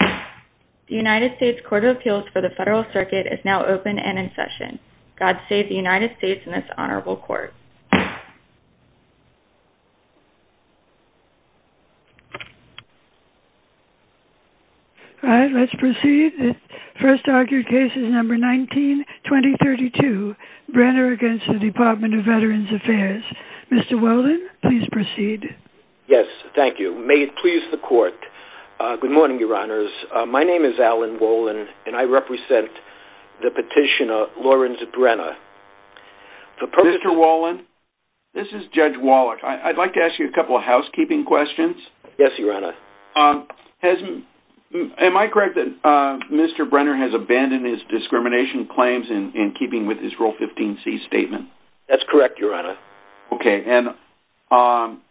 The United States Court of Appeals for the Federal Circuit is now open and in session. God save the United States and this Honorable Court. All right, let's proceed. First argued case is number 19-2032, Brenner v. Department of Veterans Affairs. Mr. Wheldon, please proceed. Yes, thank you. May it please the Court, good morning, Your Honors. My name is Alan Wheldon and I represent the petitioner Lawrence Brenner. Mr. Wheldon, this is Judge Wallach. I'd like to ask you a couple of housekeeping questions. Yes, Your Honor. Am I correct that Mr. Brenner has abandoned his discrimination claims in keeping with his Rule 15c statement? That's correct, Your Honor. Okay, and on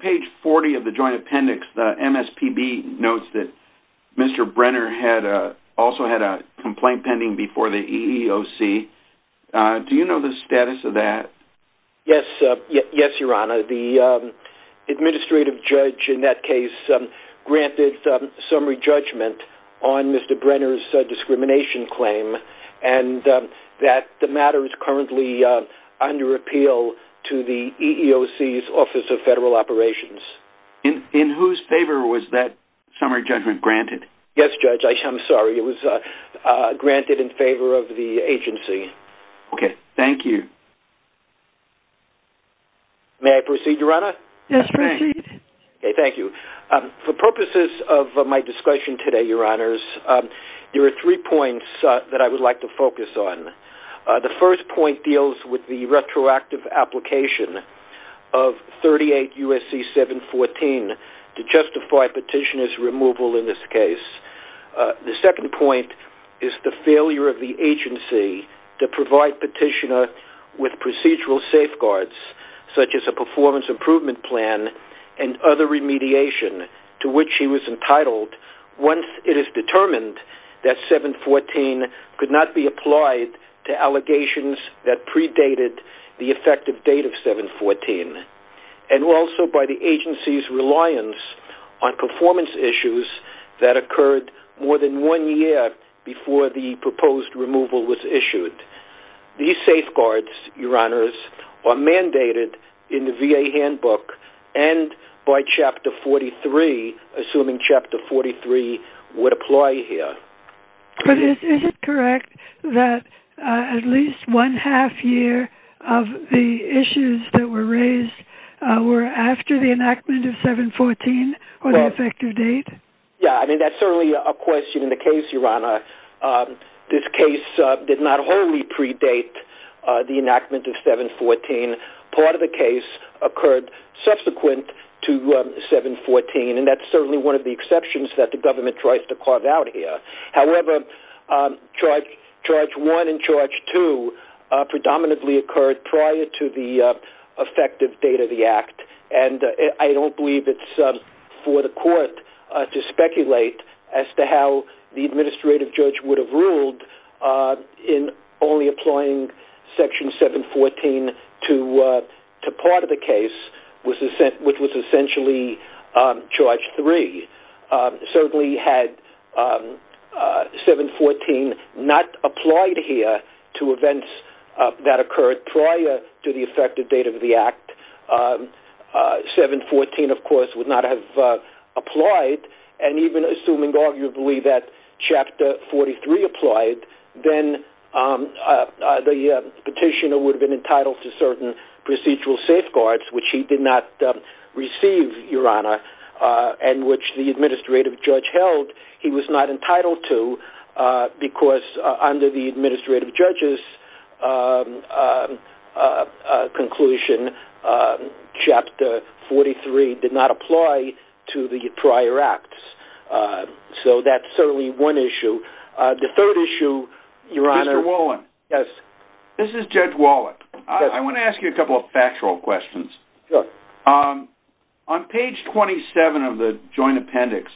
page 40 of the Joint Appendix, the MSPB notes that Mr. Brenner also had a complaint pending before the EEOC. Do you know the status of that? Yes, Your Honor. The administrative judge in that case granted summary judgment on Mr. Brenner's discrimination claim and that the matter is currently under appeal to the EEOC's Office of Federal Operations. In whose favor was that summary judgment granted? Yes, Judge. I'm sorry. It was granted in favor of the agency. Okay. Thank you. May I proceed, Your Honor? Yes, proceed. Okay. Thank you. For purposes of my discussion today, Your Honors, there are three points that I would like to focus on. The first point deals with the retroactive application of 38 U.S.C. 714 to justify petitioner's removal in this case. The second point is the failure of the agency to provide petitioner with procedural safeguards, such as a performance improvement plan and other remediation to which he was entitled once it is determined that 714 could not be applied to allegations that predated the effective date of 714. And also by the agency's reliance on performance issues that occurred more than one year before the proposed removal was issued. These safeguards, Your Honors, are mandated in the VA handbook and by Chapter 43, assuming Chapter 43 would apply here. But is it correct that at least one half year of the issues that were raised were after the enactment of 714 or the effective date? Yeah. I mean, that's certainly a question in the case, Your Honor. This case did not wholly predate the enactment of 714. Part of the case occurred subsequent to 714, and that's certainly one of the exceptions that the government tries to carve out here. However, Charge 1 and Charge 2 predominantly occurred prior to the effective date of the act. The judge would have ruled in only applying Section 714 to part of the case, which was essentially Charge 3, certainly had 714 not applied here to events that occurred prior to 714, of course, would not have applied. And even assuming arguably that Chapter 43 applied, then the petitioner would have been entitled to certain procedural safeguards, which he did not receive, Your Honor, and which the administrative judge held he was not entitled to, because under the administrative judge's conclusion, Chapter 43 did not apply to the prior acts. So that's certainly one issue. The third issue, Your Honor... Mr. Wallen. Yes. This is Judge Wallen. I want to ask you a couple of factual questions. Sure. On page 27 of the Joint Appendix,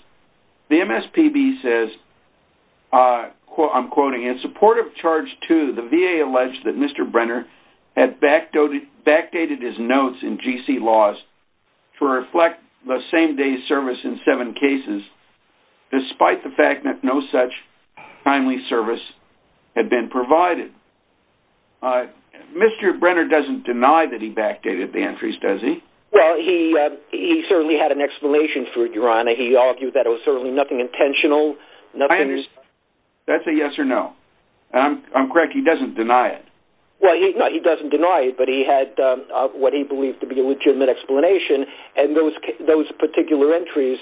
the MSPB says, I'm quoting, in support of Charge 2, the VA alleged that Mr. Brenner had backdated his notes in GC Laws to reflect the same-day service in seven cases, despite the fact that no such timely service had been provided. Mr. Brenner doesn't deny that he backdated the entries, does he? Well, he certainly had an explanation for it, Your Honor. He argued that it was certainly nothing intentional, nothing... I understand. That's a yes or no. I'm correct. He doesn't deny it. Well, he doesn't deny it, but he had what he believed to be a legitimate explanation, and those particular entries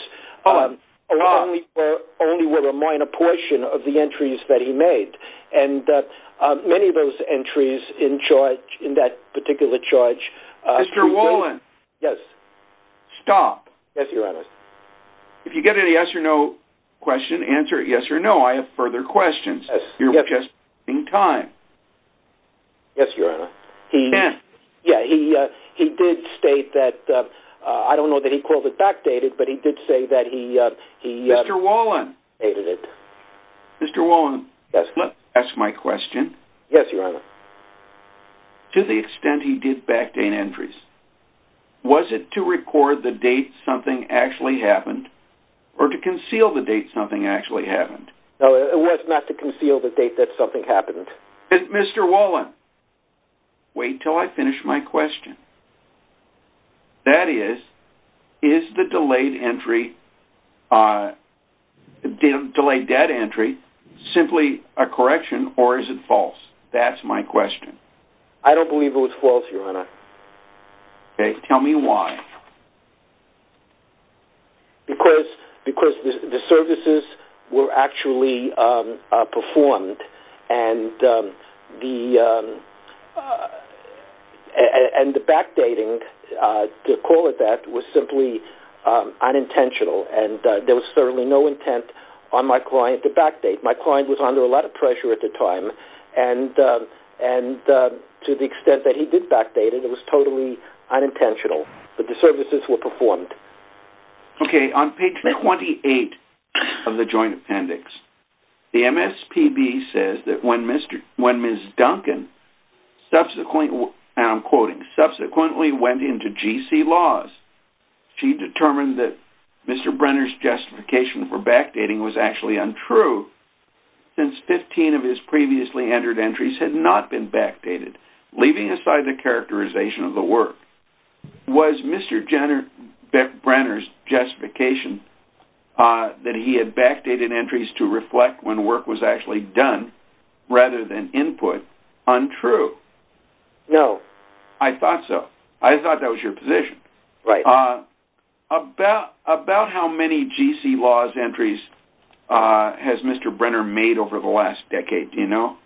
only were a minor portion of the entries that he made. And many of those entries in that particular charge... Mr. Wallen. Yes. Stop. Yes, Your Honor. If you get a yes or no question, answer yes or no. I have further questions. Yes. You're just in time. Yes, Your Honor. He... Can't. Yeah, he did state that, I don't know that he called it backdated, but he did say that he... Mr. Wallen. ...backdated it. Mr. Wallen. Yes. Let's ask my question. Yes, Your Honor. To the extent he did backdate entries, was it to record the date something actually happened or to conceal the date something actually happened? No, it was not to conceal the date that something happened. Mr. Wallen, wait till I finish my question. That is, is the delayed entry...delayed data entry simply a correction or is it false? That's my question. I don't believe it was false, Your Honor. Okay. Tell me why. Because the services were actually performed and the backdating, to call it that, was simply unintentional and there was certainly no intent on my client to backdate. My client was under a lot of pressure at the time and to the extent that he did backdate it, it was totally unintentional. But the services were performed. Okay. On page 28 of the joint appendix, the MSPB says that when Ms. Duncan subsequently, and I'm quoting, subsequently went into GC Laws, she determined that Mr. Brenner's justification for backdating was actually untrue since 15 of his previously entered entries had not been backdated. Leaving aside the characterization of the work, was Mr. Brenner's justification that he had backdated entries to reflect when work was actually done, rather than input, untrue? No. I thought so. I thought that was your position. Right. About how many GC Laws entries has Mr. Brenner made over the last decade, do you know?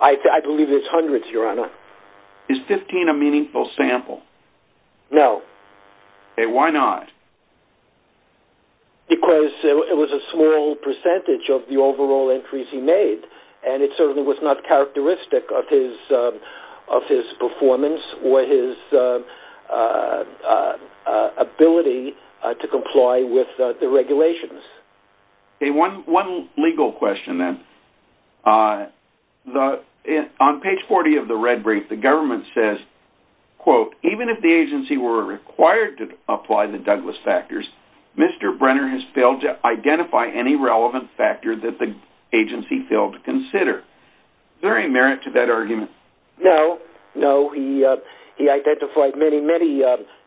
I believe it's hundreds, Your Honor. Is 15 a meaningful sample? No. Okay. Why not? Because it was a small percentage of the overall entries he made and it certainly was not characteristic of his performance or his ability to comply with the regulations. Okay. One legal question then. On page 40 of the red brief, the government says, quote, even if the agency were required to apply the Douglas factors, Mr. Brenner has failed to identify any relevant factor that the agency failed to consider. Is there any merit to that argument? No. No. He identified many, many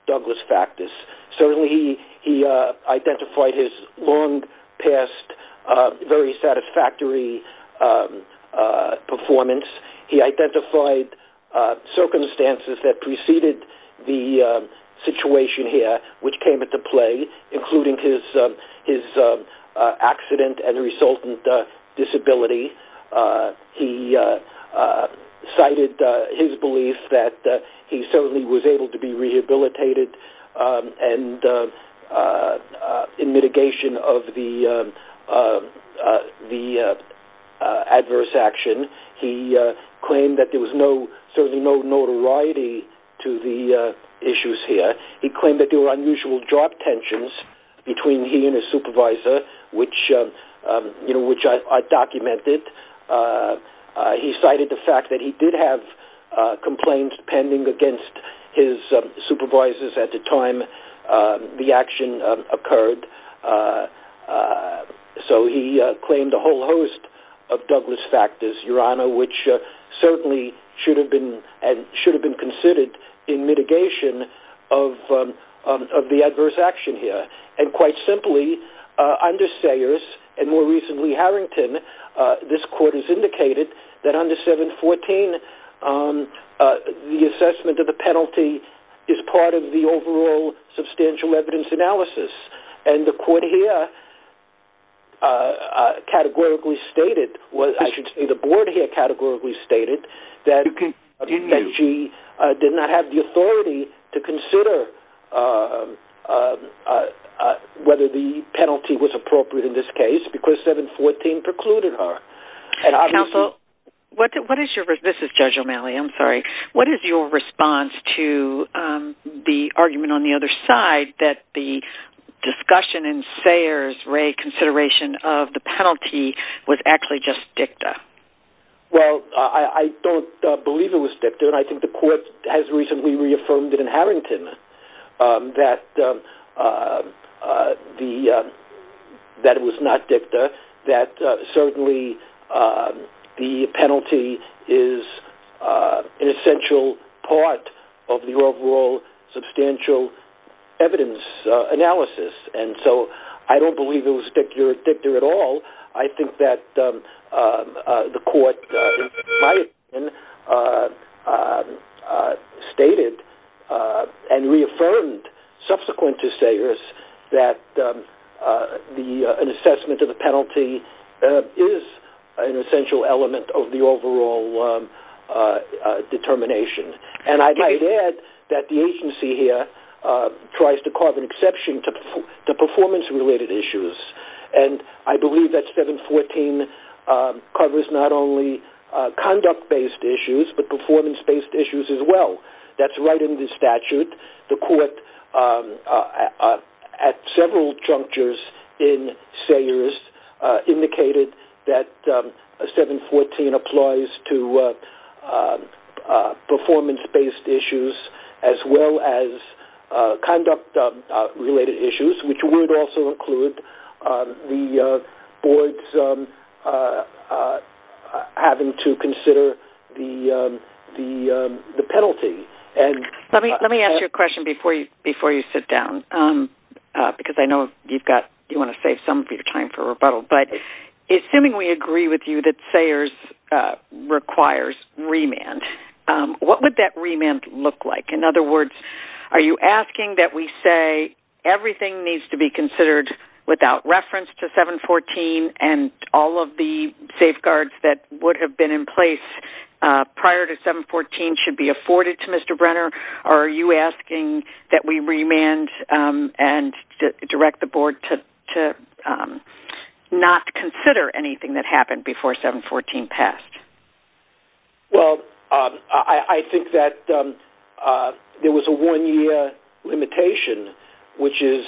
Douglas factors. Certainly, he identified his long past very satisfactory performance. He identified circumstances that preceded the situation here, which came into play, including his accident and resultant disability. He cited his belief that he certainly was able to be rehabilitated and in mitigation of the adverse action. He claimed that there was no, certainly no notoriety to the issues here. He claimed that there were unusual job tensions between he and his supervisor, which I documented. He cited the fact that he did have complaints pending against his supervisors at the time the action occurred. So he claimed a whole host of Douglas factors, Your Honor, which certainly should have been considered in mitigation of the adverse action here. And quite simply, under Sayers and more recently Harrington, this court has indicated that under 714, the assessment of the penalty is part of the overall substantial evidence analysis. And the court here categorically stated, I should say the board here categorically stated that she did not have the authority to consider whether the penalty was appropriate in this case because 714 precluded her. Counsel, this is Judge O'Malley, I'm sorry. What is your response to the argument on the other side that the discussion in Sayers' consideration of the penalty was actually just dicta? Well, I don't believe it was dicta. And I think the court has recently reaffirmed it in Harrington that it was not dicta, that certainly the penalty is an essential part of the overall substantial evidence analysis. And so I don't believe it was dicta at all. I think that the court in my opinion stated and reaffirmed subsequent to Sayers that an assessment of the penalty is an essential element of the overall determination. And I'd add that the agency here tries to carve an exception to performance-related issues. And I believe that 714 covers not only conduct-based issues but performance-based issues as well. That's right in the statute. The court at several junctures in Sayers indicated that 714 applies to performance-based issues as well as conduct-related issues, which would also include the board's having to consider the penalty. Let me ask you a question before you sit down, because I know you want to save some of your time for rebuttal. But assuming we agree with you that Sayers requires remand, what would that remand look like? In other words, are you asking that we say everything needs to be considered without reference to 714 and all of the safeguards that would have been in place prior to 714 should be afforded to Mr. Brenner? Or are you asking that we remand and direct the board to not consider anything that happened before 714 passed? Well, I think that there was a one-year limitation, which is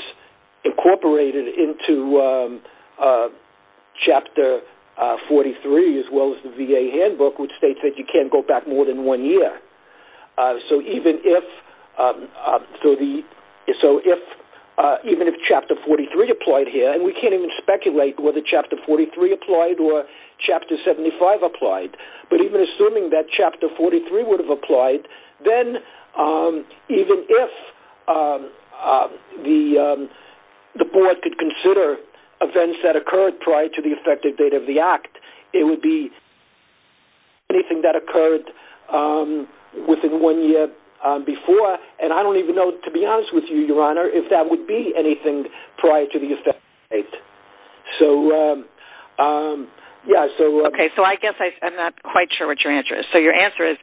incorporated into Chapter 43 as well as the VA Handbook, which states that you can't go back more than one year. So even if Chapter 43 applied here, and we can't even speculate whether Chapter 43 applied or Chapter 75 applied, but even assuming that Chapter 43 would have applied, then even if the board could consider events that occurred prior to the effective date of the Act, it would be anything that occurred within one year before. And I don't even know, to be honest with you, Your Honor, if that would be anything prior to the effective date. So, yeah, so... Okay, so I guess I'm not quite sure what your answer is. So your answer is,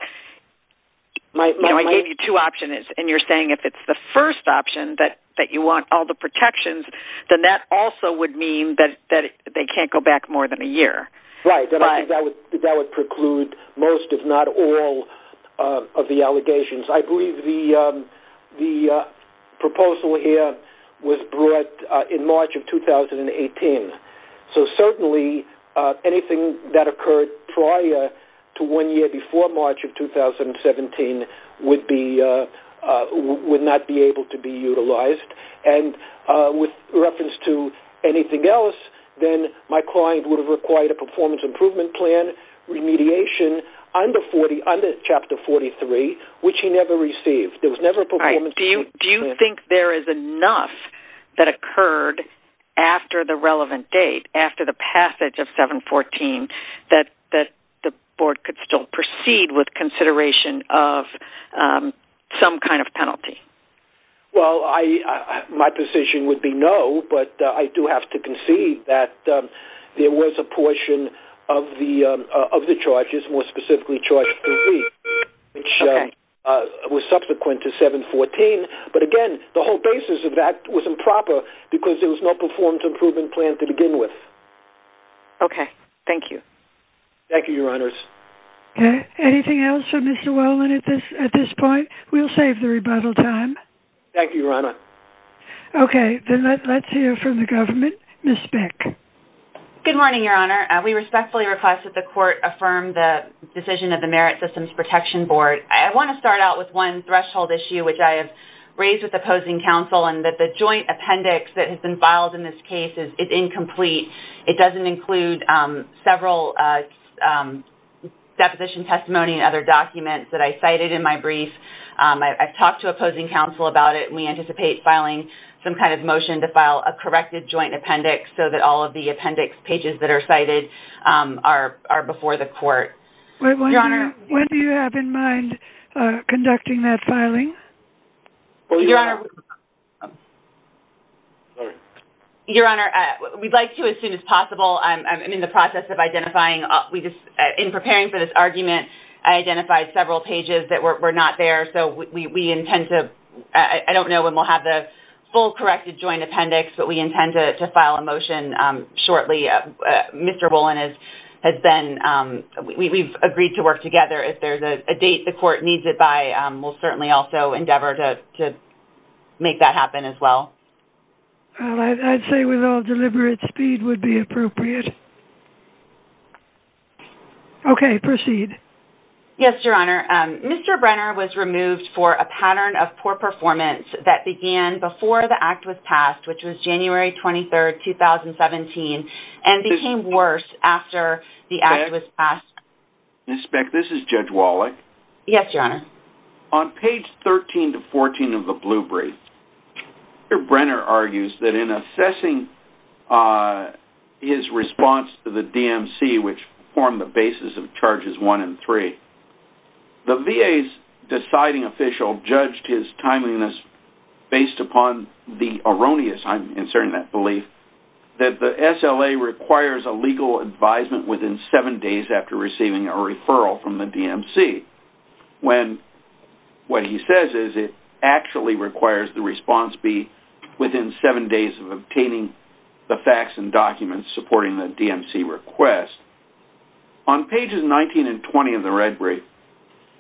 you know, I gave you two options, and you're saying if it's the first option that you want all the protections, then that also would mean that they can't go back more than a year. Right, and I think that would preclude most, if not all, of the allegations. I believe the proposal here was brought in March of 2018. So certainly anything that occurred prior to one year before March of 2017 would not be able to be utilized. And with reference to anything else, then my client would have required a performance improvement plan remediation under Chapter 43, which he never received. Do you think there is enough that occurred after the relevant date, after the passage of 714, that the Board could still proceed with consideration of some kind of penalty? Well, my position would be no, but I do have to concede that there was a portion of the charges, more specifically, Charge 3B, which was subsequent to 714. But again, the whole basis of that was improper because there was no performance improvement plan to begin with. Okay, thank you. Thank you, Your Honors. Anything else for Mr. Whelan at this point? We'll save the rebuttal time. Thank you, Your Honor. Okay, then let's hear from the government. Ms. Speck. Good morning, Your Honor. We respectfully request that the Court affirm the decision of the Merit Systems Protection Board. I want to start out with one threshold issue which I have raised with opposing counsel and that the joint appendix that has been filed in this case is incomplete. It doesn't include several deposition testimony and other documents that I cited in my brief. I've talked to opposing counsel about it and we anticipate filing some kind of motion to file a corrected joint appendix so that all of the appendix pages that are cited are before the Court. When do you have in mind conducting that filing? Your Honor, we'd like to as soon as possible. I'm in the process of identifying. In preparing for this argument, I identified several pages that were not there. I don't know when we'll have the full corrected joint appendix, but we intend to file a motion shortly. Mr. Wolin has been... We've agreed to work together. If there's a date the Court needs it by, we'll certainly also endeavor to make that happen as well. I'd say with all deliberate speed would be appropriate. Okay, proceed. Yes, Your Honor. Mr. Brenner was removed for a pattern of poor performance that began before the Act was passed, which was January 23, 2017, and became worse after the Act was passed. Ms. Speck, this is Judge Wallach. Yes, Your Honor. On page 13 to 14 of the Blue Brief, Mr. Brenner argues that in assessing his response to the DMC, which formed the basis of Charges 1 and 3, the VA's deciding official judged his timeliness based upon the erroneous, I'm inserting that belief, that the SLA requires a legal advisement within seven days after receiving a referral from the DMC, when what he says is it actually requires the response be within seven days of obtaining the facts and documents supporting the DMC request. On pages 19 and 20 of the Red Brief,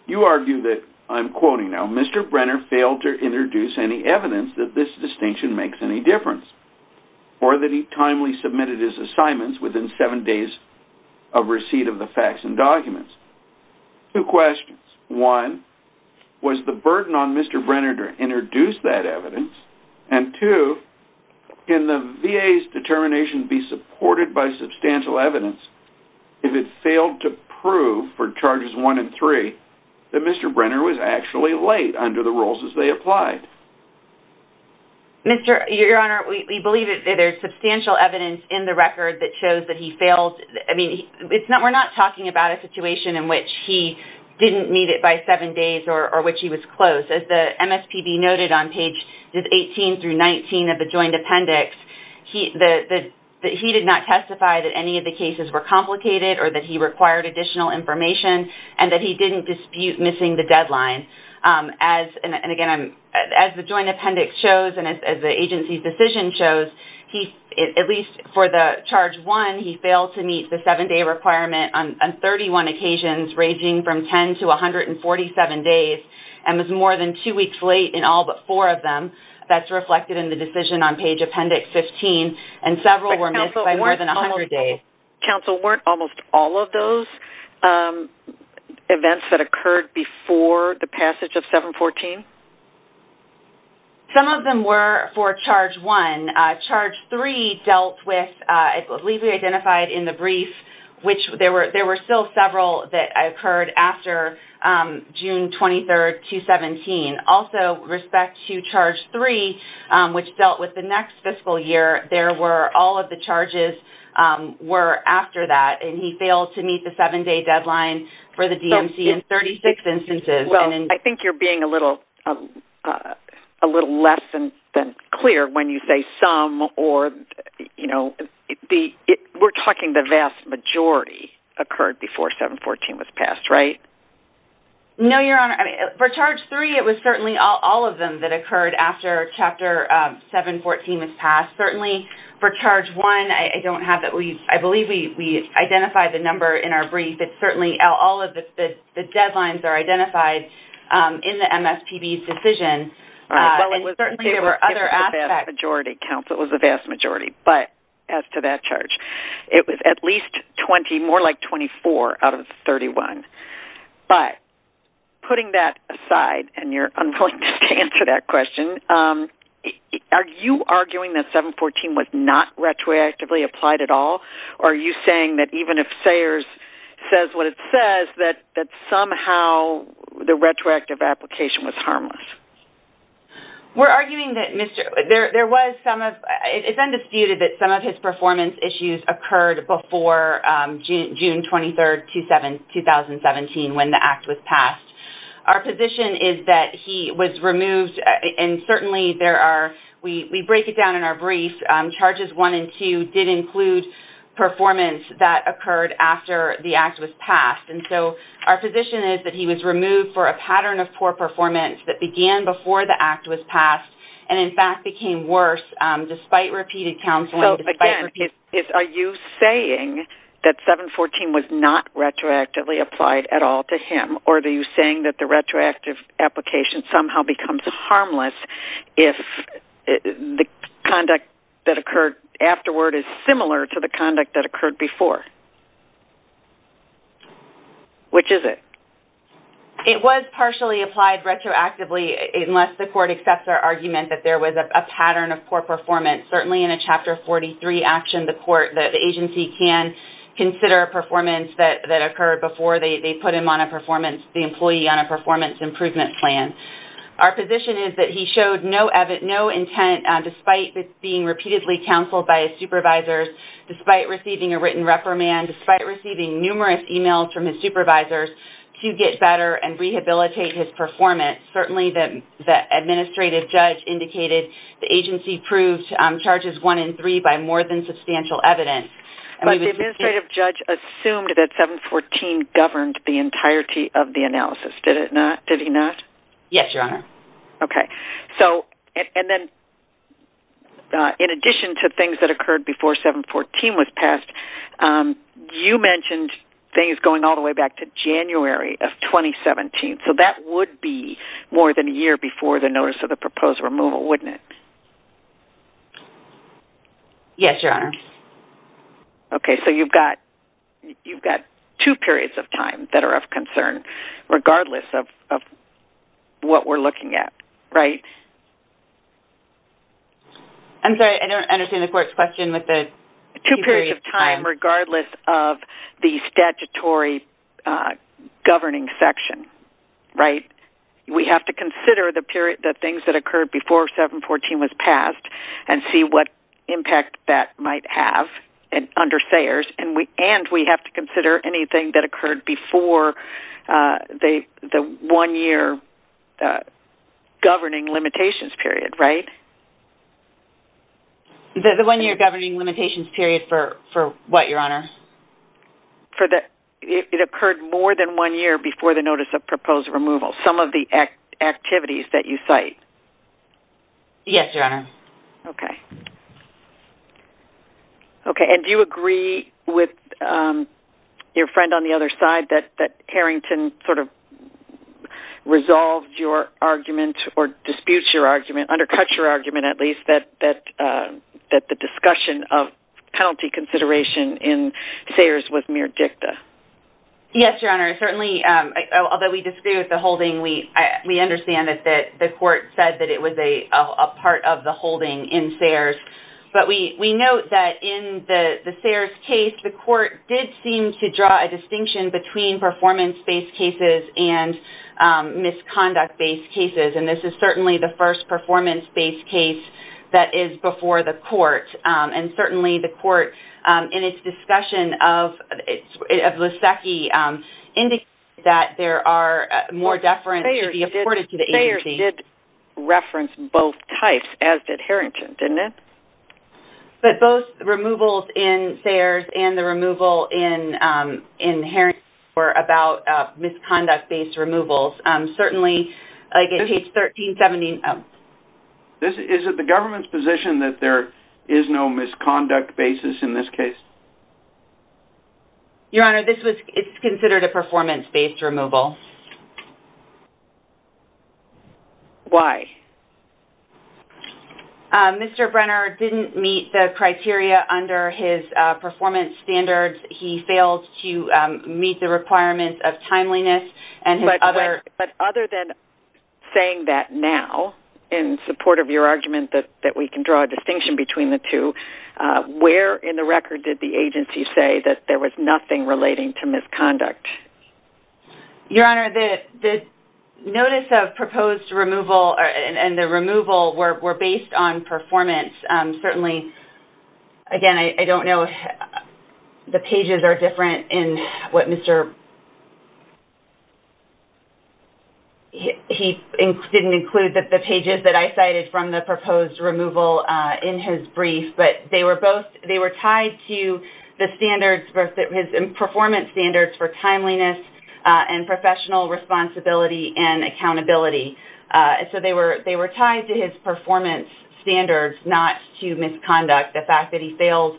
you argue that, I'm quoting now, Mr. Brenner failed to introduce any evidence that this distinction makes any difference or that he timely submitted his assignments within seven days of receipt of the facts and documents. Two questions. One, was the burden on Mr. Brenner to introduce that evidence? And two, can the VA's determination be supported by substantial evidence if it failed to prove for Charges 1 and 3 that Mr. Brenner was actually late under the rules as they applied? Your Honor, we believe that there's substantial evidence in the record that shows that he failed. We're not talking about a situation in which he didn't meet it by seven days or which he was close. As the MSPB noted on pages 18 through 19 of the Joint Appendix, he did not testify that any of the cases were complicated or that he required additional information and that he didn't dispute missing the deadline. As the Joint Appendix shows and as the agency's decision shows, at least for the Charge 1, he failed to meet the seven-day requirement on 31 occasions ranging from 10 to 147 days and was more than two weeks late in all but four of them. That's reflected in the decision on page Appendix 15 and several were missed by more than 100 days. Counsel, weren't almost all of those events that occurred before the passage of 714? Some of them were for Charge 1. Charge 3 dealt with, I believe we identified in the brief, which there were still several that occurred after June 23, 2017. Also, with respect to Charge 3, which dealt with the next fiscal year, all of the charges were after that and he failed to meet the seven-day deadline for the DMC in 36 instances. I think you're being a little less than clear when you say some or, you know, we're talking the vast majority occurred before 714 was passed, right? No, Your Honor. For Charge 3, it was certainly all of them that occurred after Chapter 714 was passed. Certainly, for Charge 1, I don't have that we, I believe we identified the number in our brief. It's certainly all of the deadlines that are identified in the MSPB's decision. And certainly there were other aspects. It was a vast majority, Counsel. It was a vast majority. But as to that charge, it was at least 20, more like 24 out of 31. But putting that aside and you're unwilling to answer that question, are you arguing that 714 was not retroactively applied at all? Or are you saying that even if Sayers says what it says, that somehow the retroactive application was harmless? We're arguing that Mr., there was some of, it's undisputed that some of his performance issues occurred before June 23, 2017 when the act was passed. Our position is that he was removed and certainly there are, we break it down in our brief. Charges 1 and 2 did include performance that occurred after the act was passed. And so our position is that he was removed for a pattern of poor performance that began before the act was passed and in fact became worse despite repeated counseling. So again, are you saying that 714 was not retroactively applied at all to him? Or are you saying that the retroactive application somehow becomes harmless if the conduct that occurred afterward is similar to the conduct that occurred before? Which is it? It was partially applied retroactively unless the court accepts our argument that there was a pattern of poor performance. Certainly in a Chapter 43 action, the agency can consider performance that occurred before they put him on a performance, the employee on a performance improvement plan. Our position is that he showed no intent despite being repeatedly counseled by his supervisors, despite receiving a written reprimand, despite receiving numerous emails from his supervisors to get better and rehabilitate his performance. Certainly the administrative judge indicated the agency proved charges 1 and 3 by more than substantial evidence. But the administrative judge assumed that 714 governed the entirety of the analysis. Did he not? Yes, Your Honor. Okay. So, and then in addition to things that occurred before 714 was passed, you mentioned things going all the way back to January of 2017. So that would be more than a year before the notice of the proposed removal, wouldn't it? Yes, Your Honor. Okay. So you've got two periods of time that are of concern, regardless of what we're looking at, right? I'm sorry. I don't understand the court's question with the two periods of time. Two periods of time regardless of the statutory governing section, right? We have to consider the period, the things that occurred before 714 was passed and see what impact that might have under Sayers. And we have to consider anything that occurred before the one-year governing limitations period, right? The one-year governing limitations period for what, Your Honor? It occurred more than one year before the notice of proposed removal. Some of the activities that you cite. Yes, Your Honor. Okay. Okay, and do you agree with your friend on the other side that Harrington sort of resolved your argument or disputes your argument, undercuts your argument at least, that the discussion of penalty consideration in Sayers was mere dicta? Yes, Your Honor. Certainly, although we disagree with the holding, we understand that the court said that it was a part of the holding in Sayers. But we note that in the Sayers case, the court did seem to draw a distinction between performance-based cases and misconduct-based cases. And this is certainly the first performance-based case that is before the court. And certainly, the court in its discussion of Lasecki indicated that there are more deference to be afforded to the agency. Sayers did reference both types as did Harrington, didn't it? But both removals in Sayers and the removal in Harrington were about misconduct-based removals. Certainly, like in page 1370... Is it the government's position that there is no misconduct basis in this case? Your Honor, this is considered a performance-based removal. Why? Mr. Brenner didn't meet the criteria under his performance standards. He failed to meet the requirements of timeliness. But other than saying that now, in support of your argument that we can draw a distinction between the two, where in the record did the agency say that there was nothing relating to misconduct? Your Honor, the notice of proposed removal and the removal were based on performance. Certainly... Again, I don't know if the pages are different in what Mr... He didn't include the pages that I cited from the proposed removal in his brief. They were tied to his performance standards for timeliness and professional responsibility and accountability. They were tied to his performance standards not to misconduct. The fact that he failed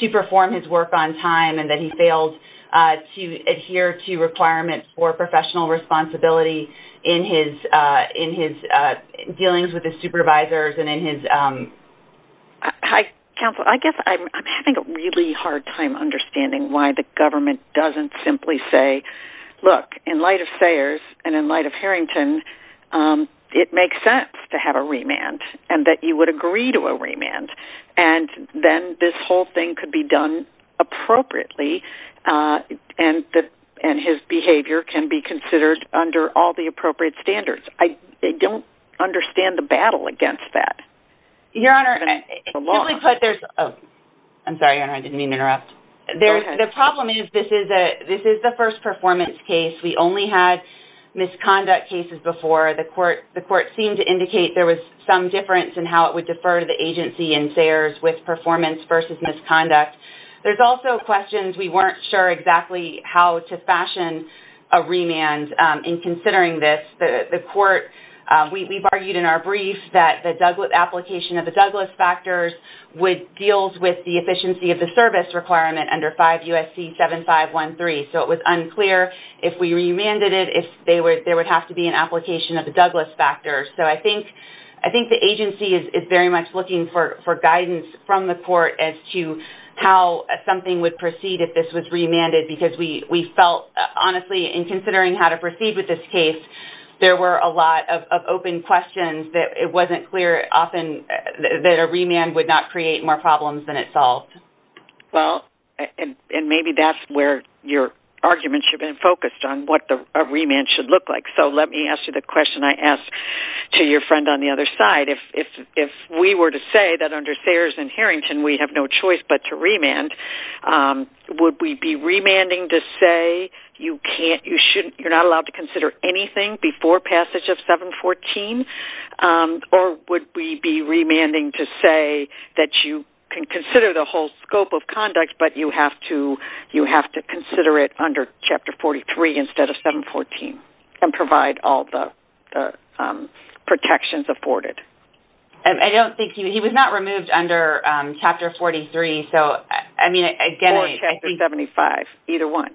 to perform his work on time and that he failed to adhere to requirements for professional responsibility in his dealings with his supervisors and in his... Counsel, I guess I'm having a really hard time understanding why the government doesn't simply say, look, in light of Sayers and in light of Harrington, it makes sense to have a remand and that you would agree to a remand. Then this whole thing could be done appropriately and his behavior can be considered under all the appropriate standards. I don't understand the battle against that. Your Honor, I'm sorry, Your Honor, I didn't mean to interrupt. The problem is this is the first performance case. We only had misconduct cases before. The court seemed to indicate there was some difference in how it would defer the agency in Sayers with performance versus misconduct. There's also questions we weren't sure exactly how to fashion a remand in considering this. We've argued in our brief that the application of the Douglas factors would deal with the efficiency of the service requirement under 5 U.S.C. 7513. It was unclear if we remanded it if there would have to be an application of the Douglas factors. I think the agency is very much looking for guidance from the court as to how something would proceed if this was remanded because we felt honestly in considering how to proceed with this case, there were a lot of open questions. It wasn't clear often that a remand would not create more problems than it solved. Maybe that's where your argument should have been focused on what a remand should look like. Let me ask you the question I asked to your friend on the other side. If we were to say that under Sayers and Harrington we have no choice but to remand, would we be remanding to say you're not allowed to consider anything before passage of 714? Or would we be remanding to say that you can consider the whole scope of conduct but you have to consider it under Chapter 43 instead of 714 and provide all the protections afforded? He was not removed under Chapter 43. Or Chapter 75. Either one.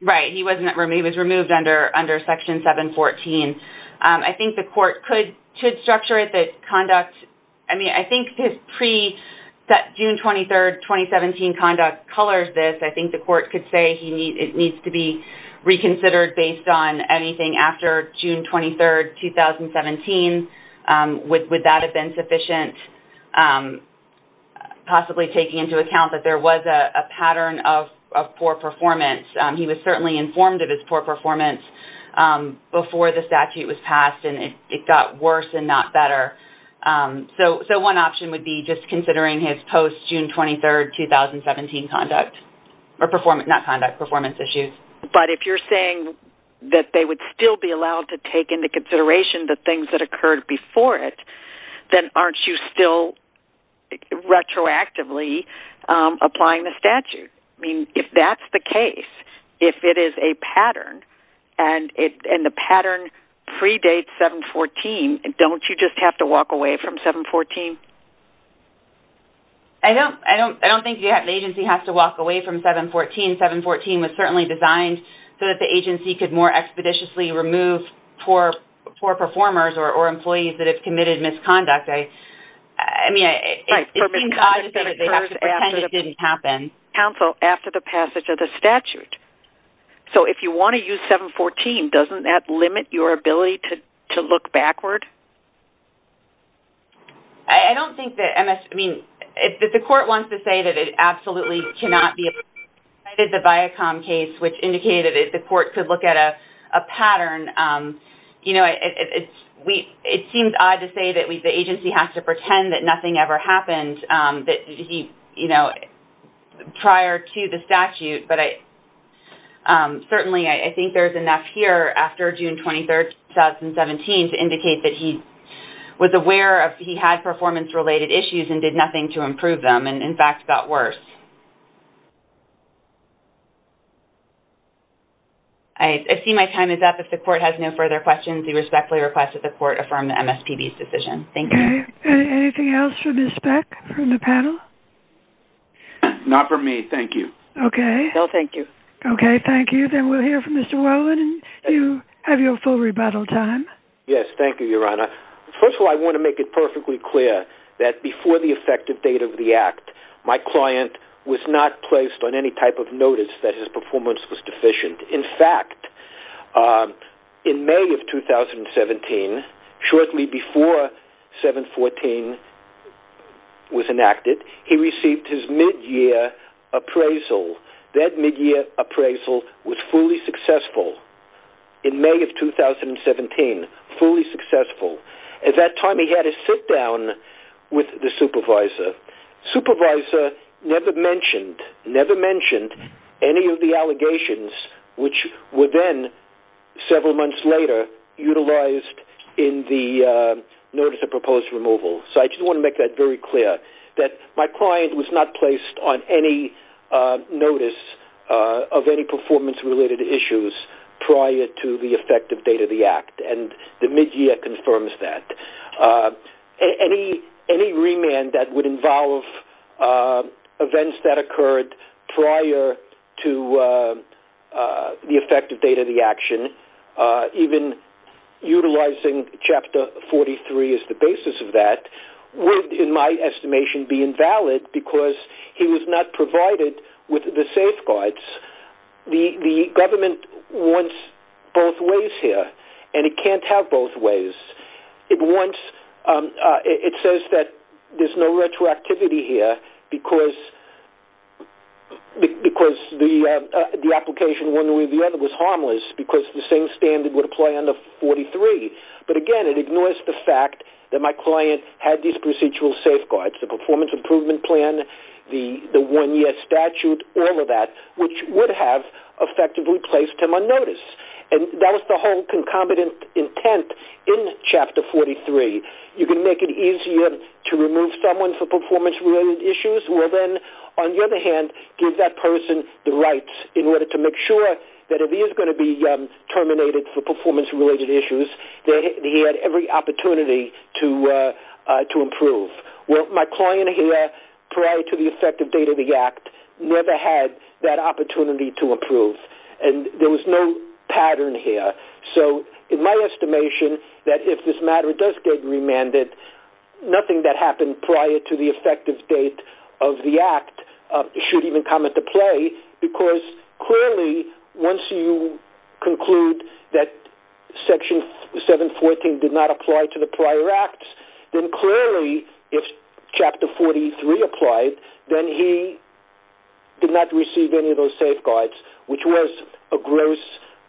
He was removed under Section 714. I think the court could structure the conduct I think his pre- June 23, 2017 conduct colors this. I think the court could say it needs to be reconsidered based on anything after June 23, 2017. Would that have been sufficient possibly taking into account that there was a pattern of poor performance? He was certainly informed of his poor performance before the statute was passed and it got worse and not better. So one option would be just considering his post-June 23, 2017 conduct. Not conduct, performance issues. But if you're saying that they would still be allowed to take into consideration the things that occurred before then aren't you still retroactively applying the statute? If that's the case if it is a pattern and the pattern predates 714 don't you just have to walk away from 714? I don't think the agency has to walk away from 714. 714 was certainly designed so that the agency could more expeditiously remove poor performers or employees that have committed misconduct. It seems odd that they have to pretend it didn't happen. Counsel, after the passage of the statute so if you want to use 714 doesn't that limit your ability to look backward? The court wants to say that it absolutely cannot be the Viacom case which indicated that the court could look at a pattern and it seems odd to say that the agency has to pretend that nothing ever happened prior to the statute but certainly I think there's enough here after June 23, 2017 to indicate that he was aware that he had performance related issues and did nothing to improve them and in fact got worse. I see my time is up. If the court has no further questions, we respectfully request that the court affirm the MSPB's decision. Thank you. Anything else for Ms. Beck from the panel? Not for me, thank you. No thank you. Okay, thank you. Then we'll hear from Mr. Whelan and you have your full rebuttal time. Yes, thank you, Your Honor. First of all, I want to make it perfectly clear that before the effective date of the act, my client was not placed on any type of notice that his performance was deficient. In fact, in May of 2017, shortly before 714 was enacted, he received his mid-year appraisal. That mid-year appraisal was fully successful in May of 2017. Fully successful. At that time, he had a sit-down with the supervisor. Supervisor never mentioned any of the allegations which were then, several months later, utilized in the notice of proposed removal. So I just want to make that very clear that my client was not placed on any notice of any performance-related issues prior to the effective date of the act and the mid-year confirms that. Any remand that would involve events that occurred prior to the effective date of the action, even utilizing Chapter 43 as the basis of that would, in my estimation, be invalid because he was not provided with the safeguards. The government wants both ways here and it can't have both ways. It says that there's no retroactivity here because the application one way or the other was harmless because the same standard would apply under 43. But again, it ignores the fact that my client had these procedural safeguards, the performance improvement plan, the one-year statute, all of that which would have effectively placed him on notice. That was the whole concomitant intent in Chapter 43. You can make it easier to remove someone for performance-related issues. Well then, on the other hand, give that person the rights in order to make sure that if he is going to be terminated for performance-related issues, that he had every opportunity to improve. My client here, prior to the effective date of the act, never had that opportunity to improve. There was no pattern here. So, in my estimation, that if this matter does get remanded, nothing that happened prior to the effective date of the act should even come into play because clearly, once you conclude that Section 714 did not apply to the prior acts, then clearly, if Chapter 43 applied, then he did not receive any of those safeguards, which was a gross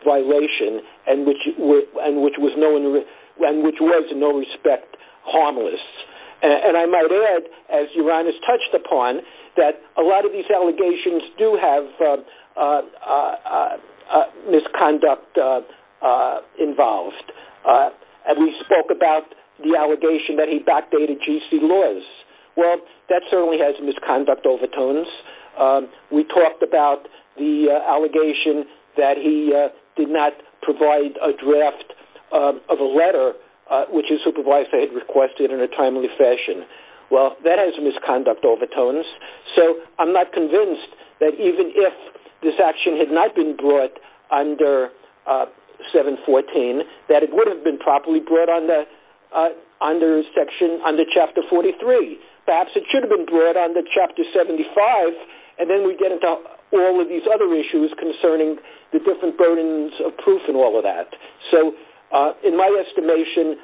violation and which was in no respect harmless. And I might add, as Uranus touched upon, that a lot of these allegations do have misconduct involved. We spoke about the allegation that he backdated GC laws. Well, that certainly has misconduct overtones. We talked about the allegation that he did not provide a draft of a letter which his supervisor had requested in a timely fashion. Well, that has misconduct overtones. So, I'm not convinced that even if this action had not been brought under 714, that it would have been properly brought under Chapter 43. Perhaps it should have been brought under Chapter 75 and then we get into all of these other issues concerning the different burdens of proof and all of that. So, in my estimation,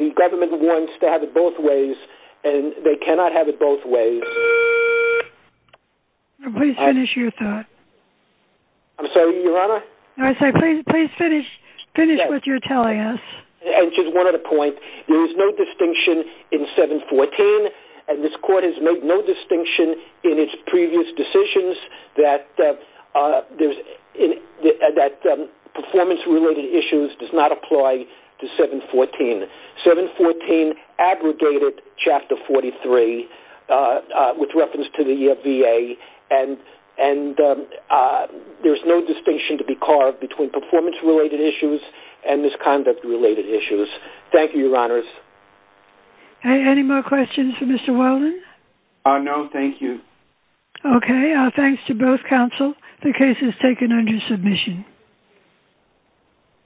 the government wants to have it both ways and they cannot have it both ways. Please finish your thought. I'm sorry, Your Honor? No, I said please finish what you're telling us. And just one other point. There is no distinction in 714 and this Court has made no distinction in its previous decisions that performance-related issues does not apply to 714. 714 abrogated Chapter 43 with reference to the VA and there's no distinction to be carved between performance-related issues and misconduct-related issues. Thank you, Your Honors. Any more questions for Mr. Whelan? No, thank you. Okay, thanks to both counsel. The case is taken under submission.